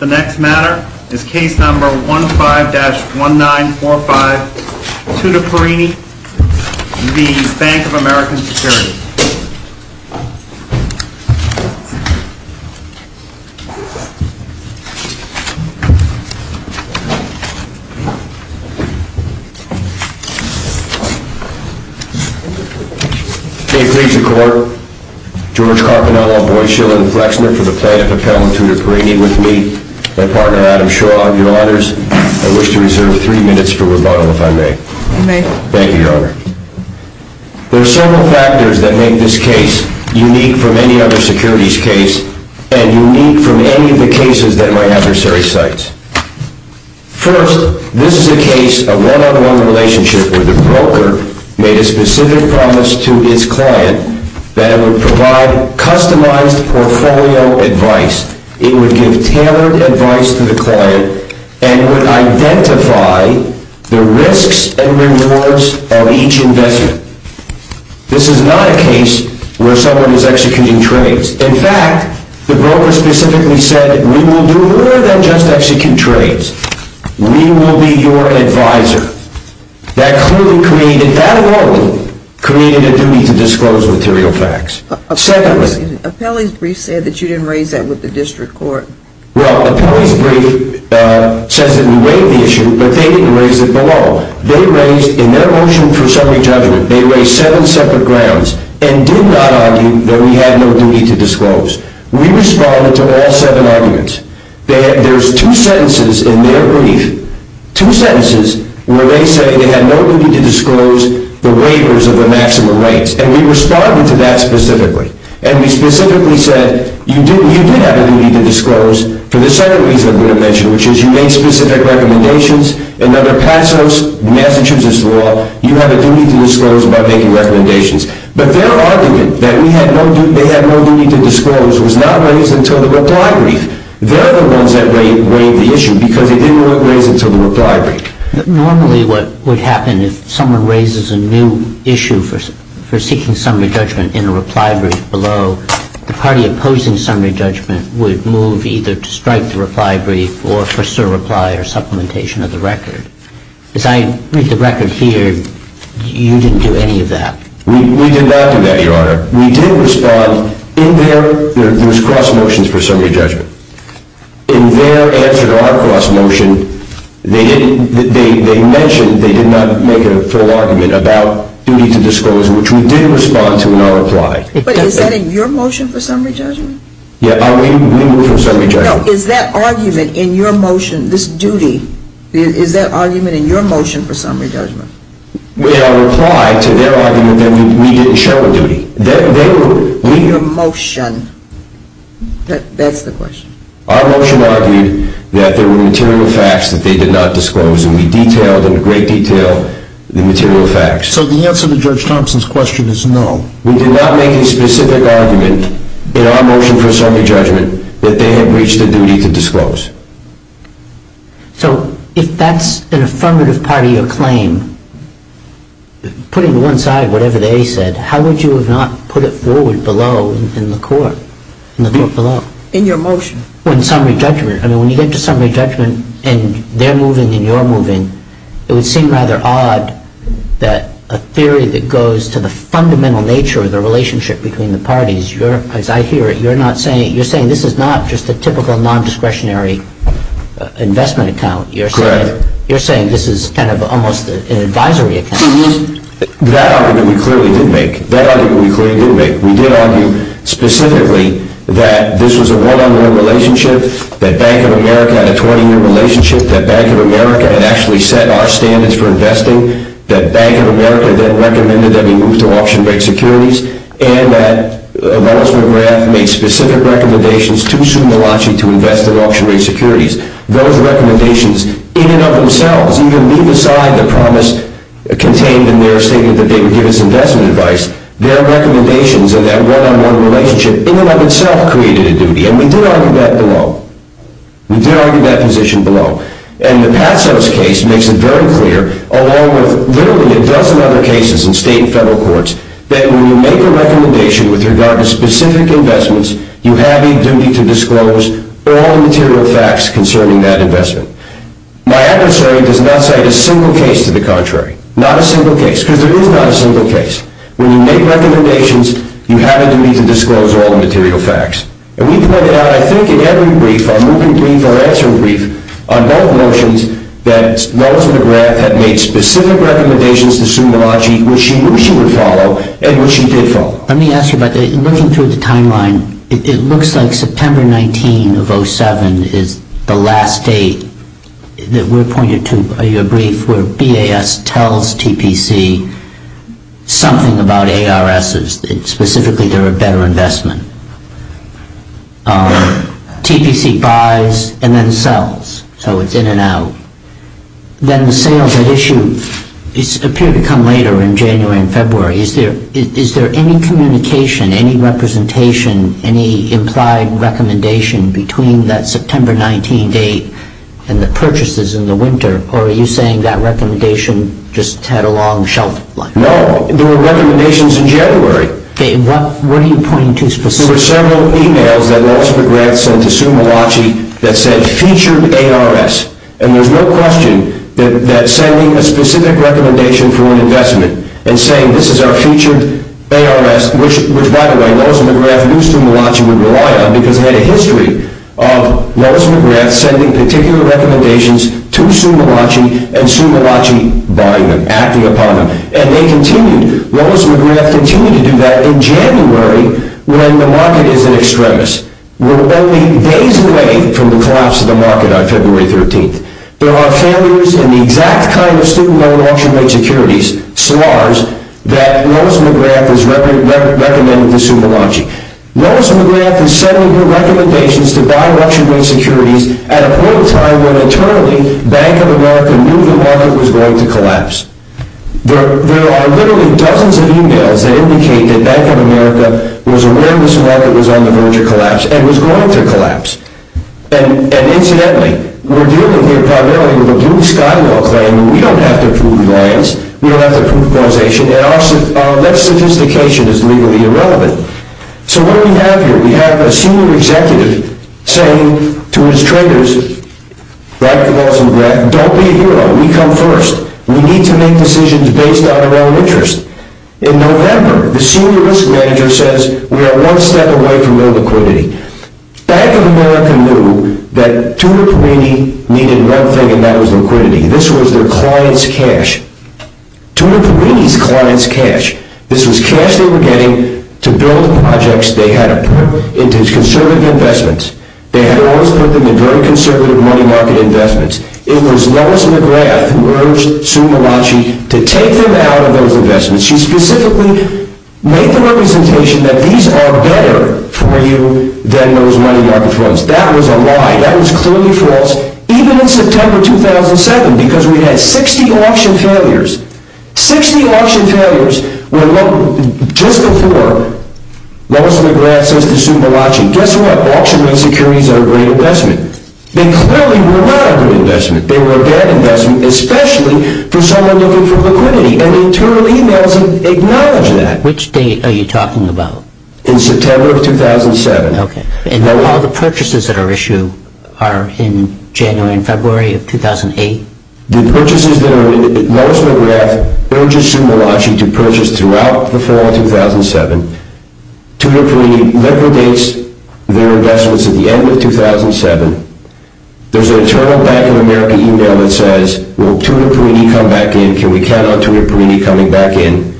The next matter is case number 15-1945, Tudor Perini v. Banc of America Securities. May it please the Court, George Carpinello, Boies Shill, and Flexner for the plaintiff appellant Tudor Perini with me, my partner Adam Shaw, your honors. I wish to reserve three minutes for rebuttal, if I may. You may. Thank you, your honor. There are several factors that make this case unique from any other securities case and unique from any of the cases that my adversary cites. First, this is a case of one-on-one relationship where the broker made a specific promise to his client that it would provide customized portfolio advice. It would give tailored advice to the client and would identify the risks and rewards of each investment. This is not a case where someone is executing trades. In fact, the broker specifically said, we will do more than just execute trades. We will be your advisor. That clearly created, that alone, created a duty to disclose material facts. Appellee's brief said that you didn't raise that with the district court. Well, appellee's brief says that we waived the issue, but they didn't raise it below. They raised, in their motion for summary judgment, they raised seven separate grounds and did not argue that we had no duty to disclose. We responded to all seven arguments. There are two sentences in their brief, two sentences, where they say they had no duty to disclose the waivers of the maximum rates, and we responded to that specifically. And we specifically said, you did have a duty to disclose, for the second reason I'm going to mention, which is you made specific recommendations, and under Passos, Massachusetts law, you have a duty to disclose by making recommendations. But their argument that they had no duty to disclose was not raised until the reply brief. They're the ones that waived the issue, because they didn't raise it until the reply brief. Normally, what would happen if someone raises a new issue for seeking summary judgment in the reply brief below, the party opposing summary judgment would move either to strike the reply brief or for sure reply or supplementation of the record. As I read the record here, you didn't do any of that. We did not do that, Your Honor. We did respond in their cross motions for summary judgment. In their answer to our cross motion, they mentioned they did not make a full argument about duty to disclose, which we did respond to in our reply. But is that in your motion for summary judgment? Yeah, we moved for summary judgment. No, is that argument in your motion, this duty, is that argument in your motion for summary judgment? In our reply to their argument, we didn't show a duty. In your motion. That's the question. Our motion argued that there were material facts that they did not disclose, and we detailed in great detail the material facts. So the answer to Judge Thompson's question is no. We did not make a specific argument in our motion for summary judgment that they had reached a duty to disclose. So if that's an affirmative party or claim, putting to one side whatever they said, how would you have not put it forward below in the court, in the court below? In your motion. When you get to summary judgment and they're moving and you're moving, it would seem rather odd that a theory that goes to the fundamental nature of the relationship between the parties, as I hear it, you're saying this is not just a typical non-discretionary investment account. Correct. You're saying this is kind of almost an advisory account. That argument we clearly did make. That argument we clearly did make. We did argue specifically that this was a one-on-one relationship, that Bank of America had a 20-year relationship, that Bank of America had actually set our standards for investing, that Bank of America then recommended that we move to auction rate securities, and that Wallace McGrath made specific recommendations to Sue Malachi to invest in auction rate securities. Those recommendations, in and of themselves, even leave aside the promise contained in their statement that they would give us investment advice, their recommendations of that one-on-one relationship, in and of itself, created a duty. And we did argue that below. We did argue that position below. And the Patsos case makes it very clear, along with literally a dozen other cases in state and federal courts, that when you make a recommendation with regard to specific investments, you have a duty to disclose all the material facts concerning that investment. My adversary does not cite a single case to the contrary. Not a single case. Because there is not a single case. When you make recommendations, you have a duty to disclose all the material facts. And we pointed out, I think, in every brief, our moving brief, our answering brief, on both motions, that Wallace McGrath had made specific recommendations to Sue Malachi, which she knew she would follow, and which she did follow. Let me ask you about that. Looking through the timeline, it looks like September 19 of 07 is the last date that we pointed to in your brief where BAS tells TPC something about ARSs, specifically they're a better investment. TPC buys and then sells. So it's in and out. Then the sales at issue appear to come later in January and February. Is there any communication, any representation, any implied recommendation between that September 19 date and the purchases in the winter? Or are you saying that recommendation just had a long shelf life? No. There were recommendations in January. Okay. What are you pointing to specifically? There were several emails that Wallace McGrath sent to Sue Malachi that said featured ARS. And there's no question that sending a specific recommendation for an investment and saying this is our featured ARS, which, by the way, Wallace McGrath knew Sue Malachi would rely on because he had a history of Wallace McGrath sending particular recommendations to Sue Malachi and Sue Malachi buying them, acting upon them. And they continued. Wallace McGrath continued to do that in January when the market is at extremis. We're only days away from the collapse of the market on February 13. There are failures in the exact kind of student loan auction rate securities, SLARs, that Wallace McGrath has recommended to Sue Malachi. Wallace McGrath is sending you recommendations to buy auction rate securities at a point in time when internally Bank of America knew the market was going to collapse. There are literally dozens of emails that indicate that Bank of America was aware this market was on the verge of collapse and was going to collapse. And, incidentally, we're dealing here primarily with a blue sky law claim. We don't have to prove reliance. We don't have to prove causation. And our less sophistication is legally irrelevant. So what do we have here? We have a senior executive saying to his traders, right to Wallace McGrath, don't be a hero. We come first. We need to make decisions based on our own interest. In November, the senior risk manager says we are one step away from illiquidity. Bank of America knew that Tutor Puini needed one thing, and that was liquidity. This was their client's cash. Tutor Puini's client's cash. This was cash they were getting to build projects they had put into conservative investments. They had always put them in very conservative money market investments. It was Wallace McGrath who urged Sue Malachi to take them out of those investments. She specifically made the representation that these are better for you than those money market funds. That was a lie. That was clearly false, even in September 2007, because we had 60 auction failures. 60 auction failures were just before Wallace McGrath says to Sue Malachi, guess what? Auction insecurities are a great investment. They clearly were not a good investment. They were a bad investment, especially for someone looking for liquidity. And internal emails acknowledge that. Which date are you talking about? In September of 2007. Okay. And all the purchases that are issued are in January and February of 2008? The purchases that are issued, Wallace McGrath urges Sue Malachi to purchase throughout the fall of 2007. Tutor Puini liquidates their investments at the end of 2007. There's an internal Bank of America email that says, Will Tutor Puini come back in? Can we count on Tutor Puini coming back in?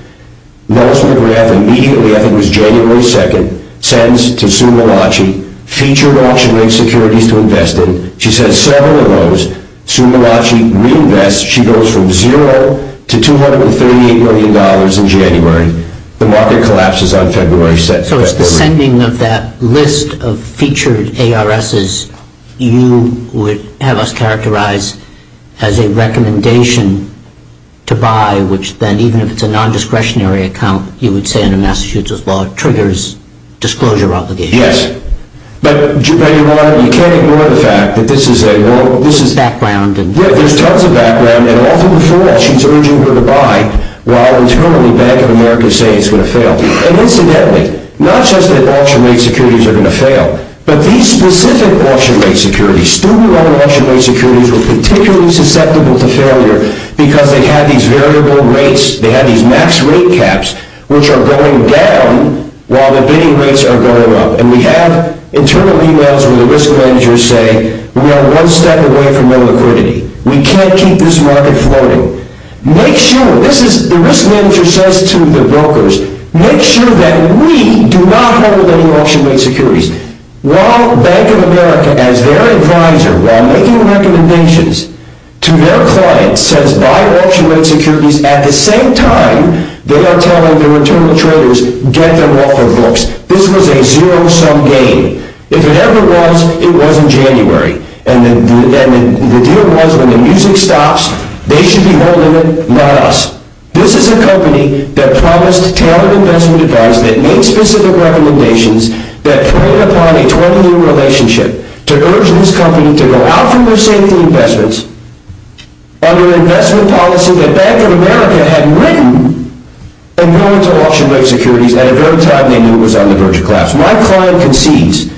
Wallace McGrath immediately, I think it was January 2nd, sends to Sue Malachi featured auction insecurities to invest in. She sends several of those. Sue Malachi reinvests. She goes from zero to $238 million in January. The market collapses on February 2nd. So it's the sending of that list of featured ARSs you would have us characterize as a recommendation to buy, which then, even if it's a non-discretionary account, you would say under Massachusetts law, triggers disclosure obligations. Yes. But you can't ignore the fact that this is a... There's a background. Yeah, there's tons of background. And all through the fall, she's urging her to buy while internally Bank of America is saying it's going to fail. And incidentally, not just that auction rate securities are going to fail, but these specific auction rate securities, student loan auction rate securities were particularly susceptible to failure because they had these variable rates, they had these max rate caps, which are going down while the bidding rates are going up. And we have internal emails where the risk managers say, We are one step away from no liquidity. We can't keep this market floating. The risk manager says to the brokers, Make sure that we do not hold any auction rate securities. While Bank of America, as their advisor, while making recommendations to their clients, says buy auction rate securities, at the same time, they are telling their internal traders, Get them off of books. This was a zero-sum game. If it ever was, it was in January. And the deal was, when the music stops, they should be holding it, not us. This is a company that promised tailored investment advice, that made specific recommendations, that preyed upon a 20-year relationship to urge this company to go out from their safety investments under investment policy that Bank of America had written, and went into auction rate securities at a very time they knew was on the verge of collapse. My client concedes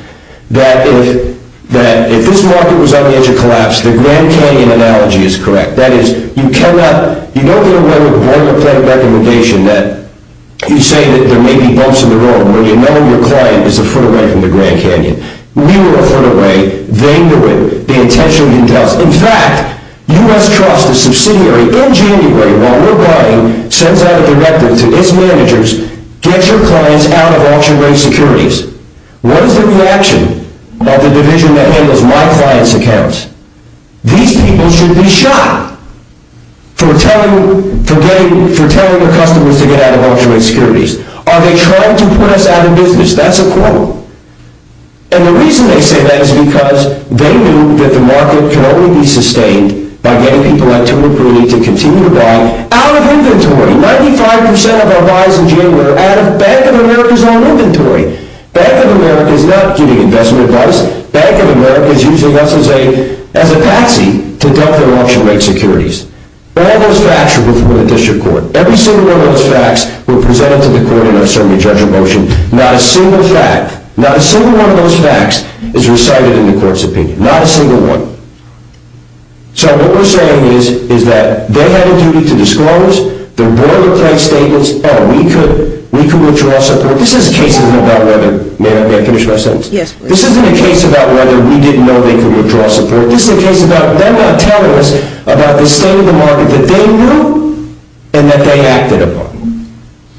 that if this market was on the edge of collapse, the Grand Canyon analogy is correct. That is, you cannot, you don't get away with a boilerplate recommendation, that you say that there may be bumps in the road, where you know your client is a foot away from the Grand Canyon. We were a foot away, they knew it, they intentionally didn't tell us. In fact, U.S. Trust, a subsidiary, in January, while we're buying, sends out a directive to its managers, get your clients out of auction rate securities. What is the reaction of the division that handles my client's accounts? These people should be shot for telling their customers to get out of auction rate securities. Are they trying to put us out of business? That's a quote. And the reason they say that is because they knew that the market can only be sustained by getting people at 2 and 3 to continue to buy out of inventory. 95% of our buys in January are out of Bank of America's own inventory. Bank of America is not giving investment advice. Bank of America is using us as a taxi to dump their auction rate securities. All those facts are before the district court. Every single one of those facts were presented to the court in our survey of judge of motion. Not a single fact, not a single one of those facts is recited in the court's opinion. Not a single one. So what we're saying is that they had a duty to disclose. The boilerplate statements, oh, we could withdraw support. This isn't a case about whether, may I finish my sentence? Yes, please. This isn't a case about whether we didn't know they could withdraw support. This is a case about them not telling us about the state of the market that they knew and that they acted upon.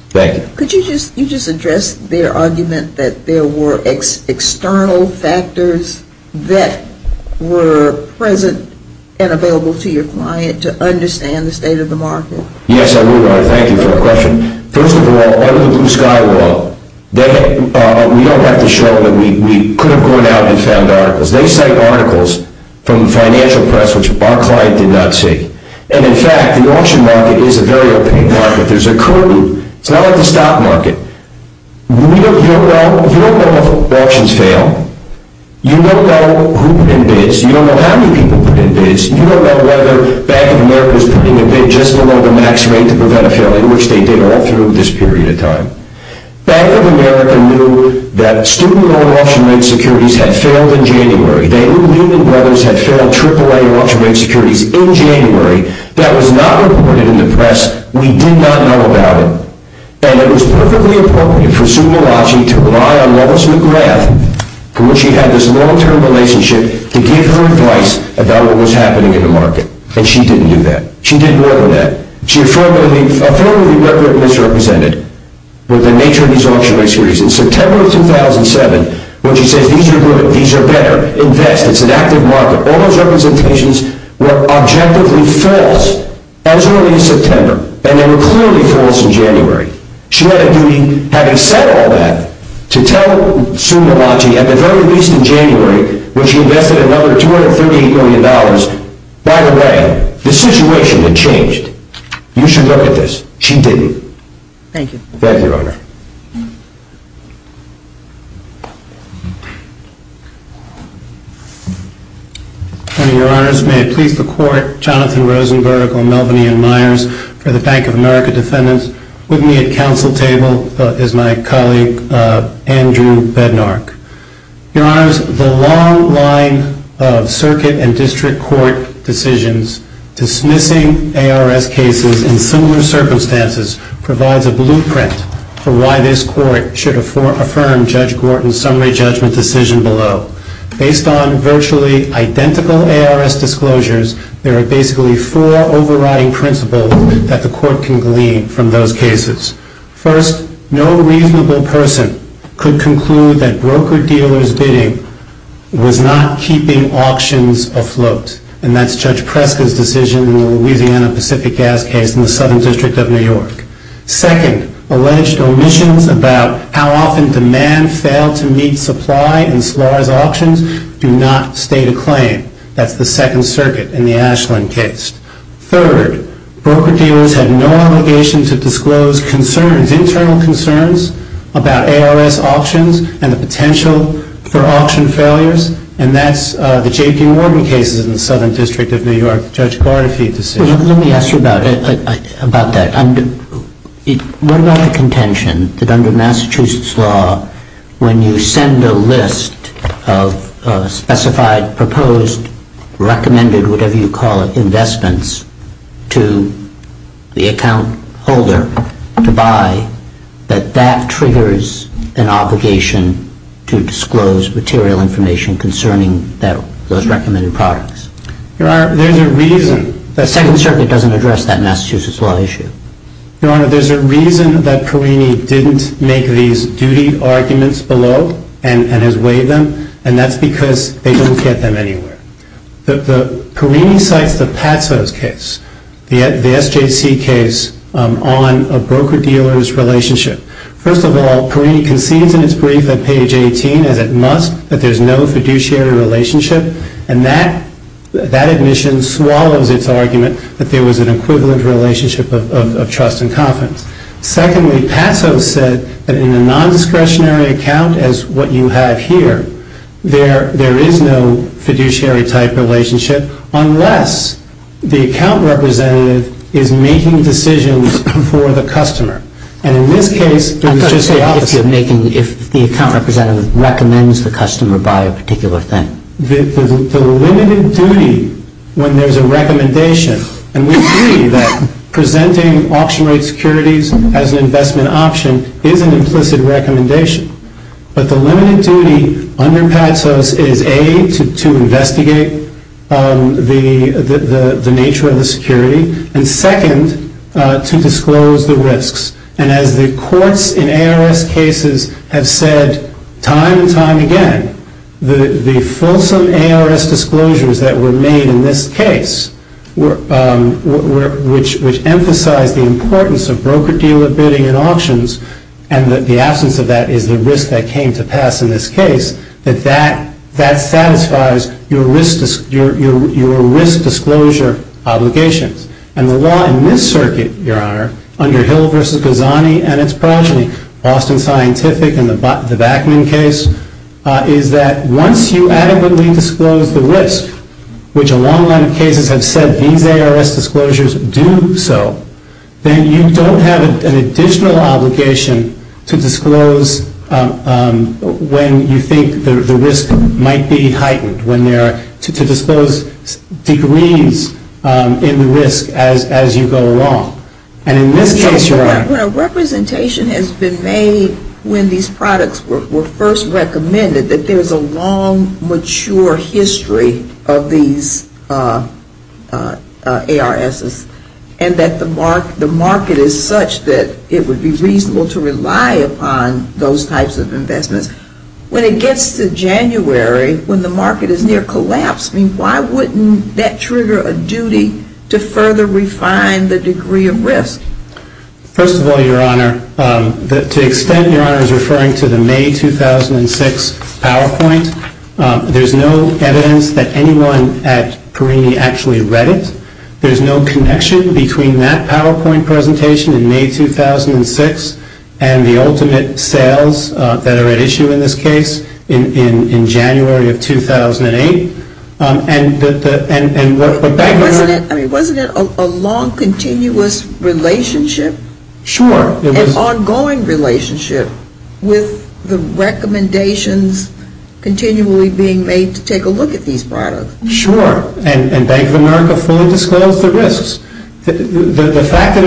Thank you. Could you just address their argument that there were external factors that were present and available to your client to understand the state of the market? Yes, I would. Thank you for the question. First of all, under the Blue Sky Law, we don't have to show that we could have gone out and found articles. They cite articles from the financial press which our client did not see. And, in fact, the auction market is a very open market. There's a curtain. It's not like the stock market. You don't know if auctions fail. You don't know who put in bids. You don't know how many people put in bids. You don't know whether Bank of America is putting a bid just below the max rate to prevent a failure, which they did all through this period of time. Bank of America knew that student loan auction rate securities had failed in January. They knew Lehman Brothers had failed AAA auction rate securities in January. That was not reported in the press. We did not know about it. And it was perfectly appropriate for Sue Milagy to rely on Lois McGrath when she had this long-term relationship to give her advice about what was happening in the market. And she didn't do that. She did more than that. She affirmed the record misrepresented with the nature of these auction rate securities. In September of 2007, when she said, these are good. These are better. Invest. It's an active market. All those representations were objectively false as early as September, and they were clearly false in January. She had a duty, having said all that, to tell Sue Milagy, at the very least in January, when she invested another $238 million, by the way, the situation had changed. You should look at this. She didn't. Thank you. Thank you, Your Honor. Your Honor, may I please the court, Jonathan Rosenberg on Melvin Ian Myers for the Bank of America defendants. With me at council table is my colleague, Andrew Bednark. Your Honors, the long line of circuit and district court decisions dismissing ARS cases in similar circumstances provides a blueprint for why this court should affirm Judge Gorton's summary judgment decision below. Based on virtually identical ARS disclosures, there are basically four overriding principles that the court can glean from those cases. First, no reasonable person could conclude that broker-dealers bidding was not keeping auctions afloat. And that's Judge Preska's decision in the Louisiana Pacific Gas case in the Southern District of New York. Second, alleged omissions about how often demand failed to meet supply in Slar's auctions do not state a claim. That's the Second Circuit in the Ashland case. Third, broker-dealers had no obligation to disclose concerns, internal concerns, about ARS auctions and the potential for auction failures. And that's the J.P. Morgan case in the Southern District of New York, Judge Bartofi's decision. Let me ask you about that. What about the contention that under Massachusetts law, when you send a list of specified, proposed, recommended, whatever you call it, investments to the account holder to buy, that that triggers an obligation to disclose material information concerning those recommended products? Your Honor, there's a reason that… The Second Circuit doesn't address that Massachusetts law issue. Your Honor, there's a reason that Perrini didn't make these duty arguments below and has waived them, and that's because they didn't get them anywhere. Perrini cites the Patso's case, the SJC case on a broker-dealers relationship. First of all, Perrini concedes in its brief at page 18, as it must, that there's no fiduciary relationship, and that admission swallows its argument that there was an equivalent relationship of trust and confidence. Secondly, Patso said that in a nondiscretionary account, as what you have here, there is no fiduciary-type relationship, unless the account representative is making decisions for the customer. And in this case, it was just the opposite. I'm trying to say if the account representative recommends the customer buy a particular thing. The limited duty, when there's a recommendation, and we agree that presenting auction rate securities as an investment option is an implicit recommendation, but the limited duty under Patso's is, A, to investigate the nature of the security, and second, to disclose the risks. And as the courts in ARS cases have said time and time again, the fulsome ARS disclosures that were made in this case, which emphasize the importance of broker-dealer bidding and auctions, and that the absence of that is the risk that came to pass in this case, that that satisfies your risk disclosure obligations. And the law in this circuit, Your Honor, under Hill v. Ghazani and its progeny, Boston Scientific and the Backman case, is that once you adequately disclose the risk, which a long line of cases have said these ARS disclosures do so, then you don't have an additional obligation to disclose when you think the risk might be heightened, to disclose degrees in the risk as you go along. And in this case, Your Honor, when a representation has been made when these products were first recommended, that there's a long, mature history of these ARSs, and that the market is such that it would be reasonable to rely upon those types of investments, when it gets to January, when the market is near collapse, why wouldn't that trigger a duty to further refine the degree of risk? First of all, Your Honor, to the extent Your Honor is referring to the May 2006 PowerPoint, there's no evidence that anyone at Perini actually read it. There's no connection between that PowerPoint presentation in May 2006 and the ultimate sales that are at issue in this case in January of 2008. And what Bank of America... Wasn't it a long, continuous relationship? Sure. An ongoing relationship with the recommendations continually being made to take a look at these products. Sure. And Bank of America fully disclosed the risks. The fact that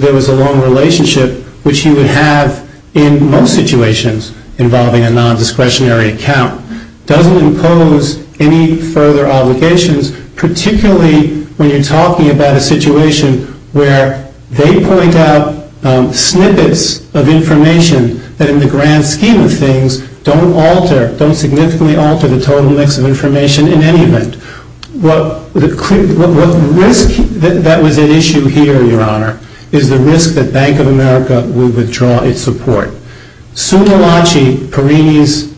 there was a long relationship, which you would have in most situations involving a nondiscretionary account, doesn't impose any further obligations, particularly when you're talking about a situation where they point out snippets of information that in the grand scheme of things don't alter, don't significantly alter the total mix of information in any event. What risk that was at issue here, Your Honor, is the risk that Bank of America will withdraw its support. Suna Lachi, Perini's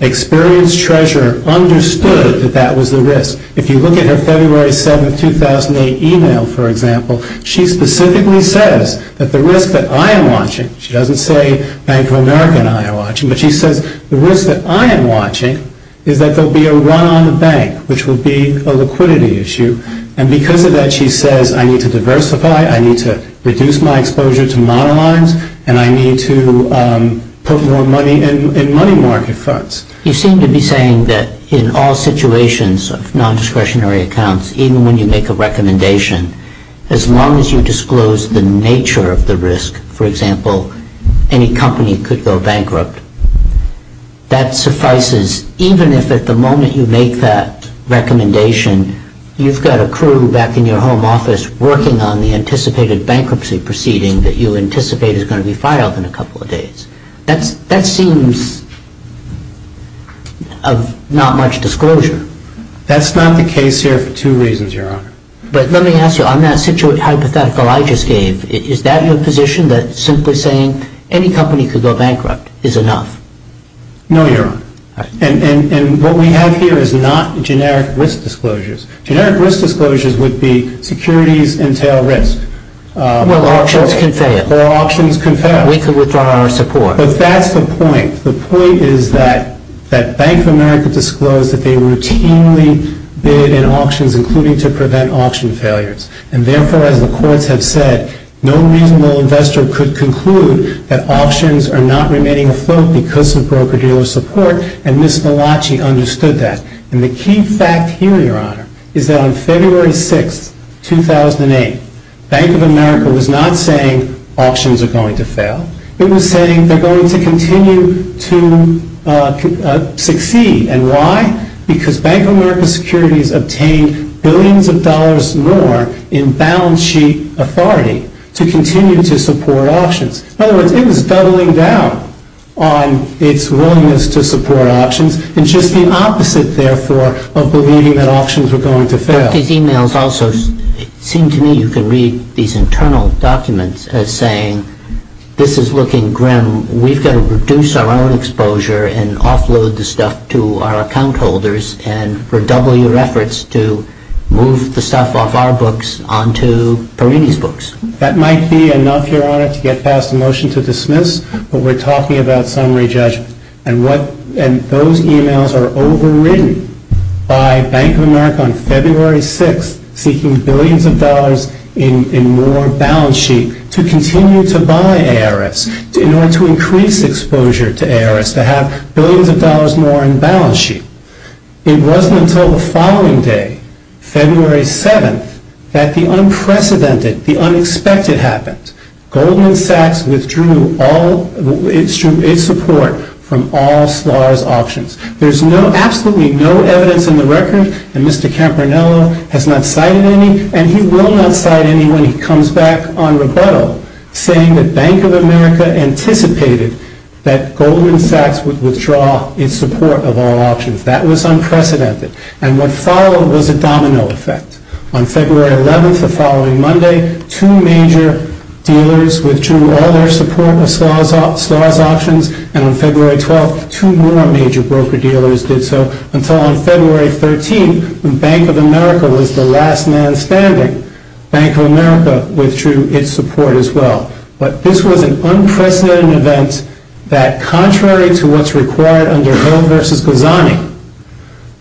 experienced treasurer, understood that that was the risk. If you look at her February 7, 2008 email, for example, she specifically says that the risk that I am watching, she doesn't say Bank of America and I are watching, but she says the risk that I am watching is that there will be a run on the bank, which will be a liquidity issue. And because of that, she says I need to diversify, I need to reduce my exposure to monolines, and I need to put more money in money market funds. You seem to be saying that in all situations of nondiscretionary accounts, even when you make a recommendation, as long as you disclose the nature of the risk, for example, any company could go bankrupt, that suffices even if at the moment you make that recommendation, you've got a crew back in your home office working on the anticipated bankruptcy proceeding that you anticipate is going to be filed in a couple of days. That seems of not much disclosure. That's not the case here for two reasons, Your Honor. But let me ask you, on that hypothetical I just gave, is that your position that simply saying any company could go bankrupt is enough? No, Your Honor. And what we have here is not generic risk disclosures. Generic risk disclosures would be securities entail risk. Well, auctions can fail. Well, auctions can fail. We could withdraw our support. But that's the point. The point is that Bank of America disclosed that they routinely bid in auctions, including to prevent auction failures. And therefore, as the courts have said, no reasonable investor could conclude that auctions are not remaining afloat because of broker-dealer support, and Ms. Malachi understood that. And the key fact here, Your Honor, is that on February 6, 2008, Bank of America was not saying auctions are going to fail. It was saying they're going to continue to succeed. And why? Because Bank of America Securities obtained billions of dollars more in balance sheet authority to continue to support auctions. In other words, it was doubling down on its willingness to support auctions. And just the opposite, therefore, of believing that auctions were going to fail. But these e-mails also seem to me you can read these internal documents as saying this is looking grim. We've got to reduce our own exposure and offload the stuff to our account holders and redouble your efforts to move the stuff off our books onto Perini's books. That might be enough, Your Honor, to get past a motion to dismiss, but we're talking about summary judgment. And those e-mails are overridden by Bank of America on February 6th seeking billions of dollars in more balance sheet to continue to buy ARS in order to increase exposure to ARS, to have billions of dollars more in balance sheet. It wasn't until the following day, February 7th, that the unprecedented, the unexpected happened. Goldman Sachs withdrew its support from all SLAR's auctions. There's absolutely no evidence in the record, and Mr. Campanello has not cited any, and he will not cite any when he comes back on rebuttal, saying that Bank of America anticipated that Goldman Sachs would withdraw its support of all auctions. That was unprecedented. And what followed was a domino effect. On February 11th, the following Monday, two major dealers withdrew all their support of SLAR's auctions, and on February 12th, two more major broker-dealers did so, until on February 13th, when Bank of America was the last man standing. Bank of America withdrew its support as well. But this was an unprecedented event that, contrary to what's required under Hill v. Ghazani,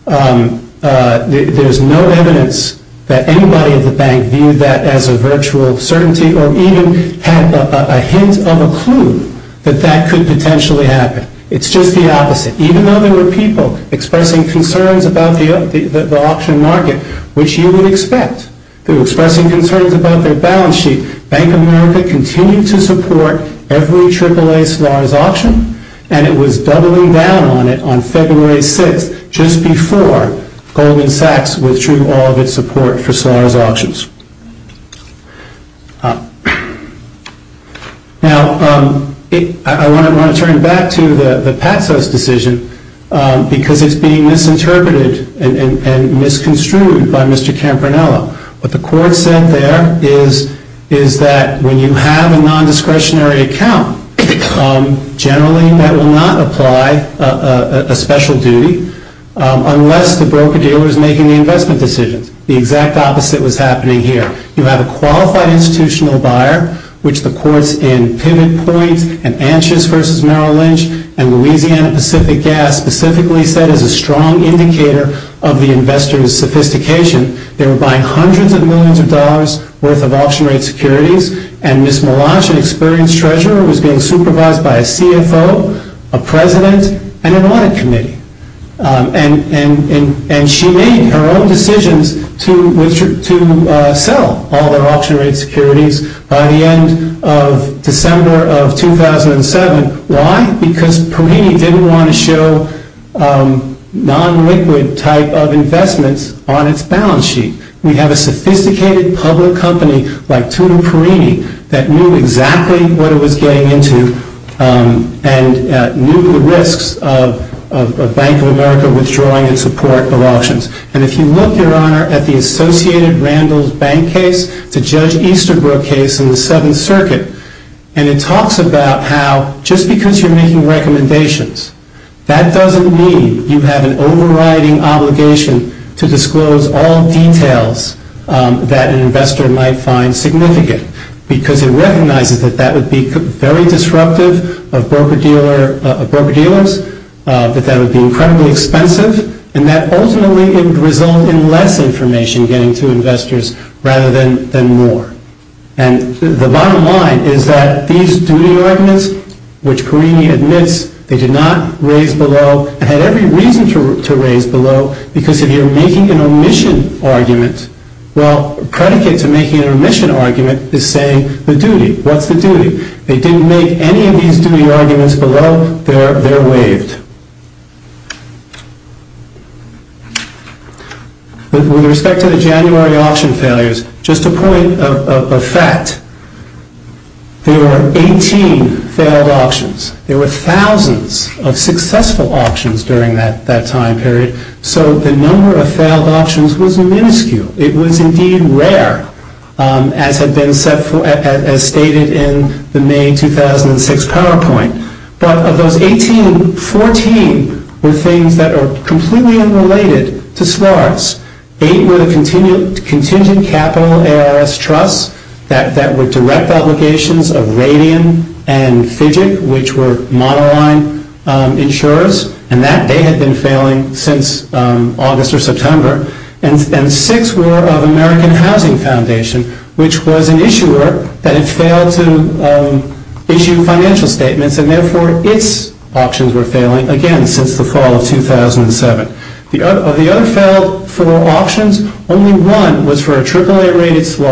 there's no evidence that anybody at the bank viewed that as a virtual certainty or even had a hint of a clue that that could potentially happen. It's just the opposite. Even though there were people expressing concerns about the auction market, which you would expect, they were expressing concerns about their balance sheet, Bank of America continued to support every AAA SLAR's auction, and it was doubling down on it on February 6th, just before Goldman Sachs withdrew all of its support for SLAR's auctions. Now, I want to turn back to the Patsos decision, because it's being misinterpreted and misconstrued by Mr. Campanella. What the court said there is that when you have a nondiscretionary account, generally that will not apply a special duty, unless the broker-dealer is making the investment decisions. The exact opposite was happening here. You have a qualified institutional buyer, which the courts in Pivot Point and Anshes v. Merrill Lynch and Louisiana Pacific Gas specifically said is a strong indicator of the investor's sophistication. They were buying hundreds of millions of dollars worth of auction rate securities, and Ms. Melancia, an experienced treasurer, was being supervised by a CFO, a president, and an audit committee. And she made her own decisions to sell all their auction rate securities by the end of December of 2007. Why? Because Perini didn't want to show non-liquid type of investments on its balance sheet. We have a sophisticated public company like Tutu Perini that knew exactly what it was getting into and knew the risks of Bank of America withdrawing in support of auctions. And if you look, Your Honor, at the Associated Randalls Bank case to Judge Easterbrook case in the Seventh Circuit, and it talks about how just because you're making recommendations, that doesn't mean you have an overriding obligation to disclose all details that an investor might find significant because it recognizes that that would be very disruptive of broker-dealers, that that would be incredibly expensive, and that ultimately it would result in less information getting to investors rather than more. And the bottom line is that these duty ordinance, which Perini admits they did not raise below and had every reason to raise below because if you're making an omission argument, well, a predicate to making an omission argument is saying the duty. What's the duty? They didn't make any of these duty arguments below. They're waived. With respect to the January auction failures, just a point of fact, there were 18 failed auctions. There were thousands of successful auctions during that time period, so the number of failed auctions was minuscule. It was indeed rare, as stated in the May 2006 PowerPoint. But of those 18, 14 were things that are completely unrelated to smarts. Eight were the contingent capital ARS trusts that were direct obligations of Radian and Fidget, which were monoline insurers, and that they had been failing since August or September. And six were of American Housing Foundation, which was an issuer that had failed to issue financial statements, and therefore its auctions were failing again since the fall of 2007. Of the other failed auctions, only one was for a AAA-rated slur,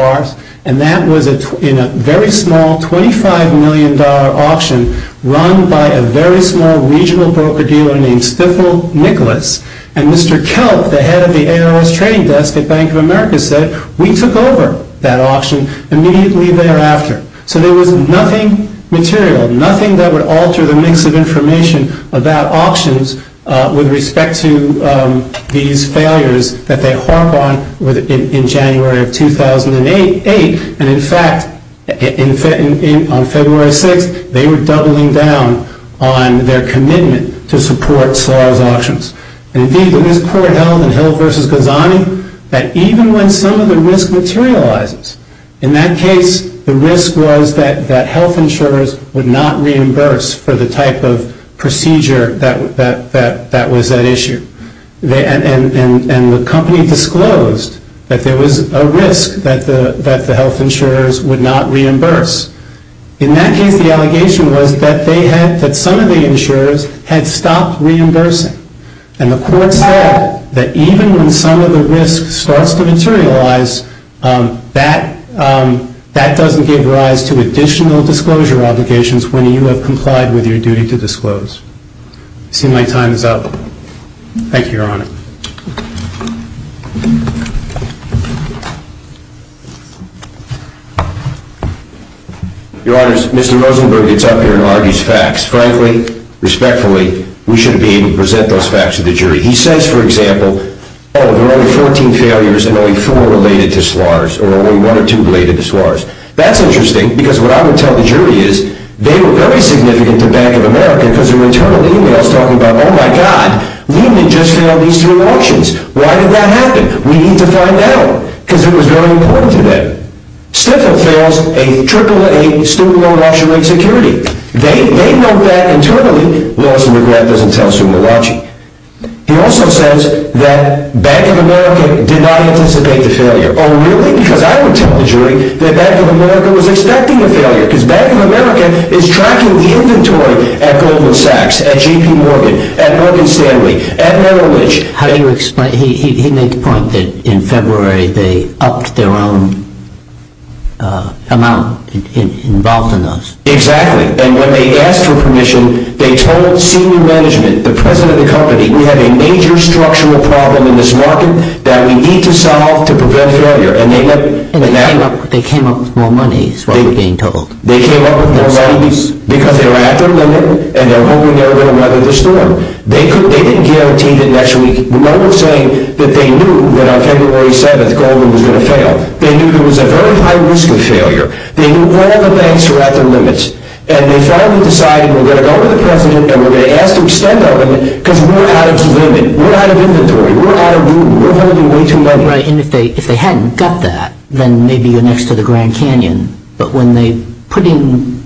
and that was in a very small $25 million auction run by a very small regional broker dealer named Stifel Nicholas. And Mr. Kelp, the head of the ARS trading desk at Bank of America, said, we took over that auction immediately thereafter. So there was nothing material, nothing that would alter the mix of information about auctions with respect to these failures that they harp on in January of 2008. And in fact, on February 6th, they were doubling down on their commitment to support slurred auctions. And indeed, there was a court held in Hill v. Ghazani that even when some of the risk materializes, in that case, the risk was that health insurers would not reimburse for the type of procedure that was at issue. And the company disclosed that there was a risk that the health insurers would not reimburse. In that case, the allegation was that some of the insurers had stopped reimbursing. And the court said that even when some of the risk starts to materialize, that doesn't give rise to additional disclosure obligations when you have complied with your duty to disclose. I see my time is up. Thank you, Your Honor. Your Honors, Mr. Rosenberg gets up here and argues facts. Frankly, respectfully, we should be able to present those facts to the jury. He says, for example, oh, there are only 14 failures and only four related to slurs, or only one or two related to slurs. That's interesting because what I would tell the jury is they were very significant to Bank of America because their internal email is talking about, oh, my God, Lehman just failed these three auctions. Why did that happen? We need to find out because it was very important to them. Stifel fails a triple-A student loan auction rate security. They know that internally. Loss and regret doesn't tell sumo watching. He also says that Bank of America did not anticipate the failure. Oh, really? Because I would tell the jury that Bank of America was expecting a failure because Bank of America is tracking the inventory at Goldman Sachs, at J.P. Morgan, at Morgan Stanley, at Merrill Lynch. He made the point that in February they upped their own amount involved in those. Exactly, and when they asked for permission, they told senior management, the president of the company, we have a major structural problem in this market that we need to solve to prevent failure. And they came up with more money is what we're being told. They came up with more money because they were at their limit and they were hoping they were going to weather the storm. They didn't guarantee that next week. No one was saying that they knew that on February 7th, Goldman was going to fail. They knew there was a very high risk of failure. They knew all the banks were at their limits, and they finally decided we're going to go to the president and we're going to ask to extend our limit because we're out of limit. We're out of inventory. We're out of room. We're holding way too much money. Right, and if they hadn't got that, then maybe you're next to the Grand Canyon. But when they put in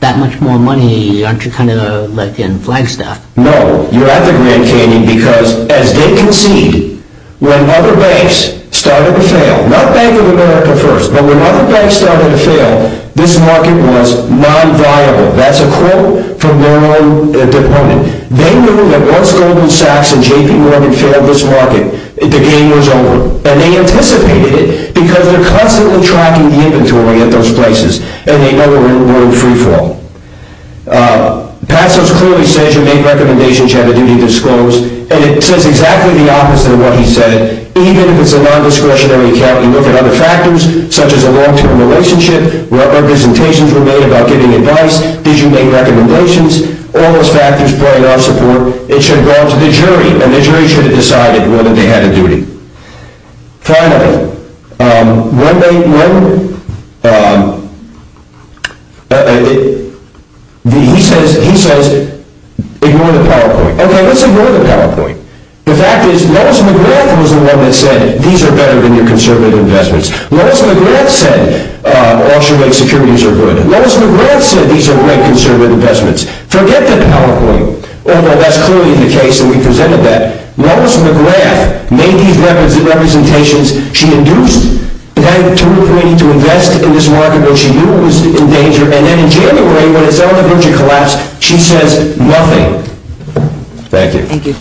that much more money, aren't you kind of like in Flagstaff? No, you're at the Grand Canyon because as they concede, when other banks started to fail, not Bank of America first, but when other banks started to fail, this market was non-viable. That's a quote from Merrill Lynch, their deponent. They knew that once Goldman Sachs and J.P. Morgan failed this market, the game was over, and they anticipated it because they're constantly tracking the inventory at those places, and they know we're in world free fall. Passos clearly says you make recommendations, you have a duty to disclose, and it says exactly the opposite of what he said. Even if it's a non-discretionary account, you look at other factors, such as a long-term relationship, what representations were made about giving advice, did you make recommendations, all those factors play in our support, it should go on to the jury, and the jury should have decided whether they had a duty. Finally, he says ignore the PowerPoint. Okay, let's ignore the PowerPoint. The fact is Lois McGrath was the one that said these are better than your conservative investments. Lois McGrath said auction rate securities are good. Lois McGrath said these are great conservative investments. Forget the PowerPoint, although that's clearly the case, and we presented that. Lois McGrath made these representations, she induced the guy to agree to invest in this market when she knew it was in danger, and then in January, when it's on the verge of collapse, she says nothing. Thank you. Thank you.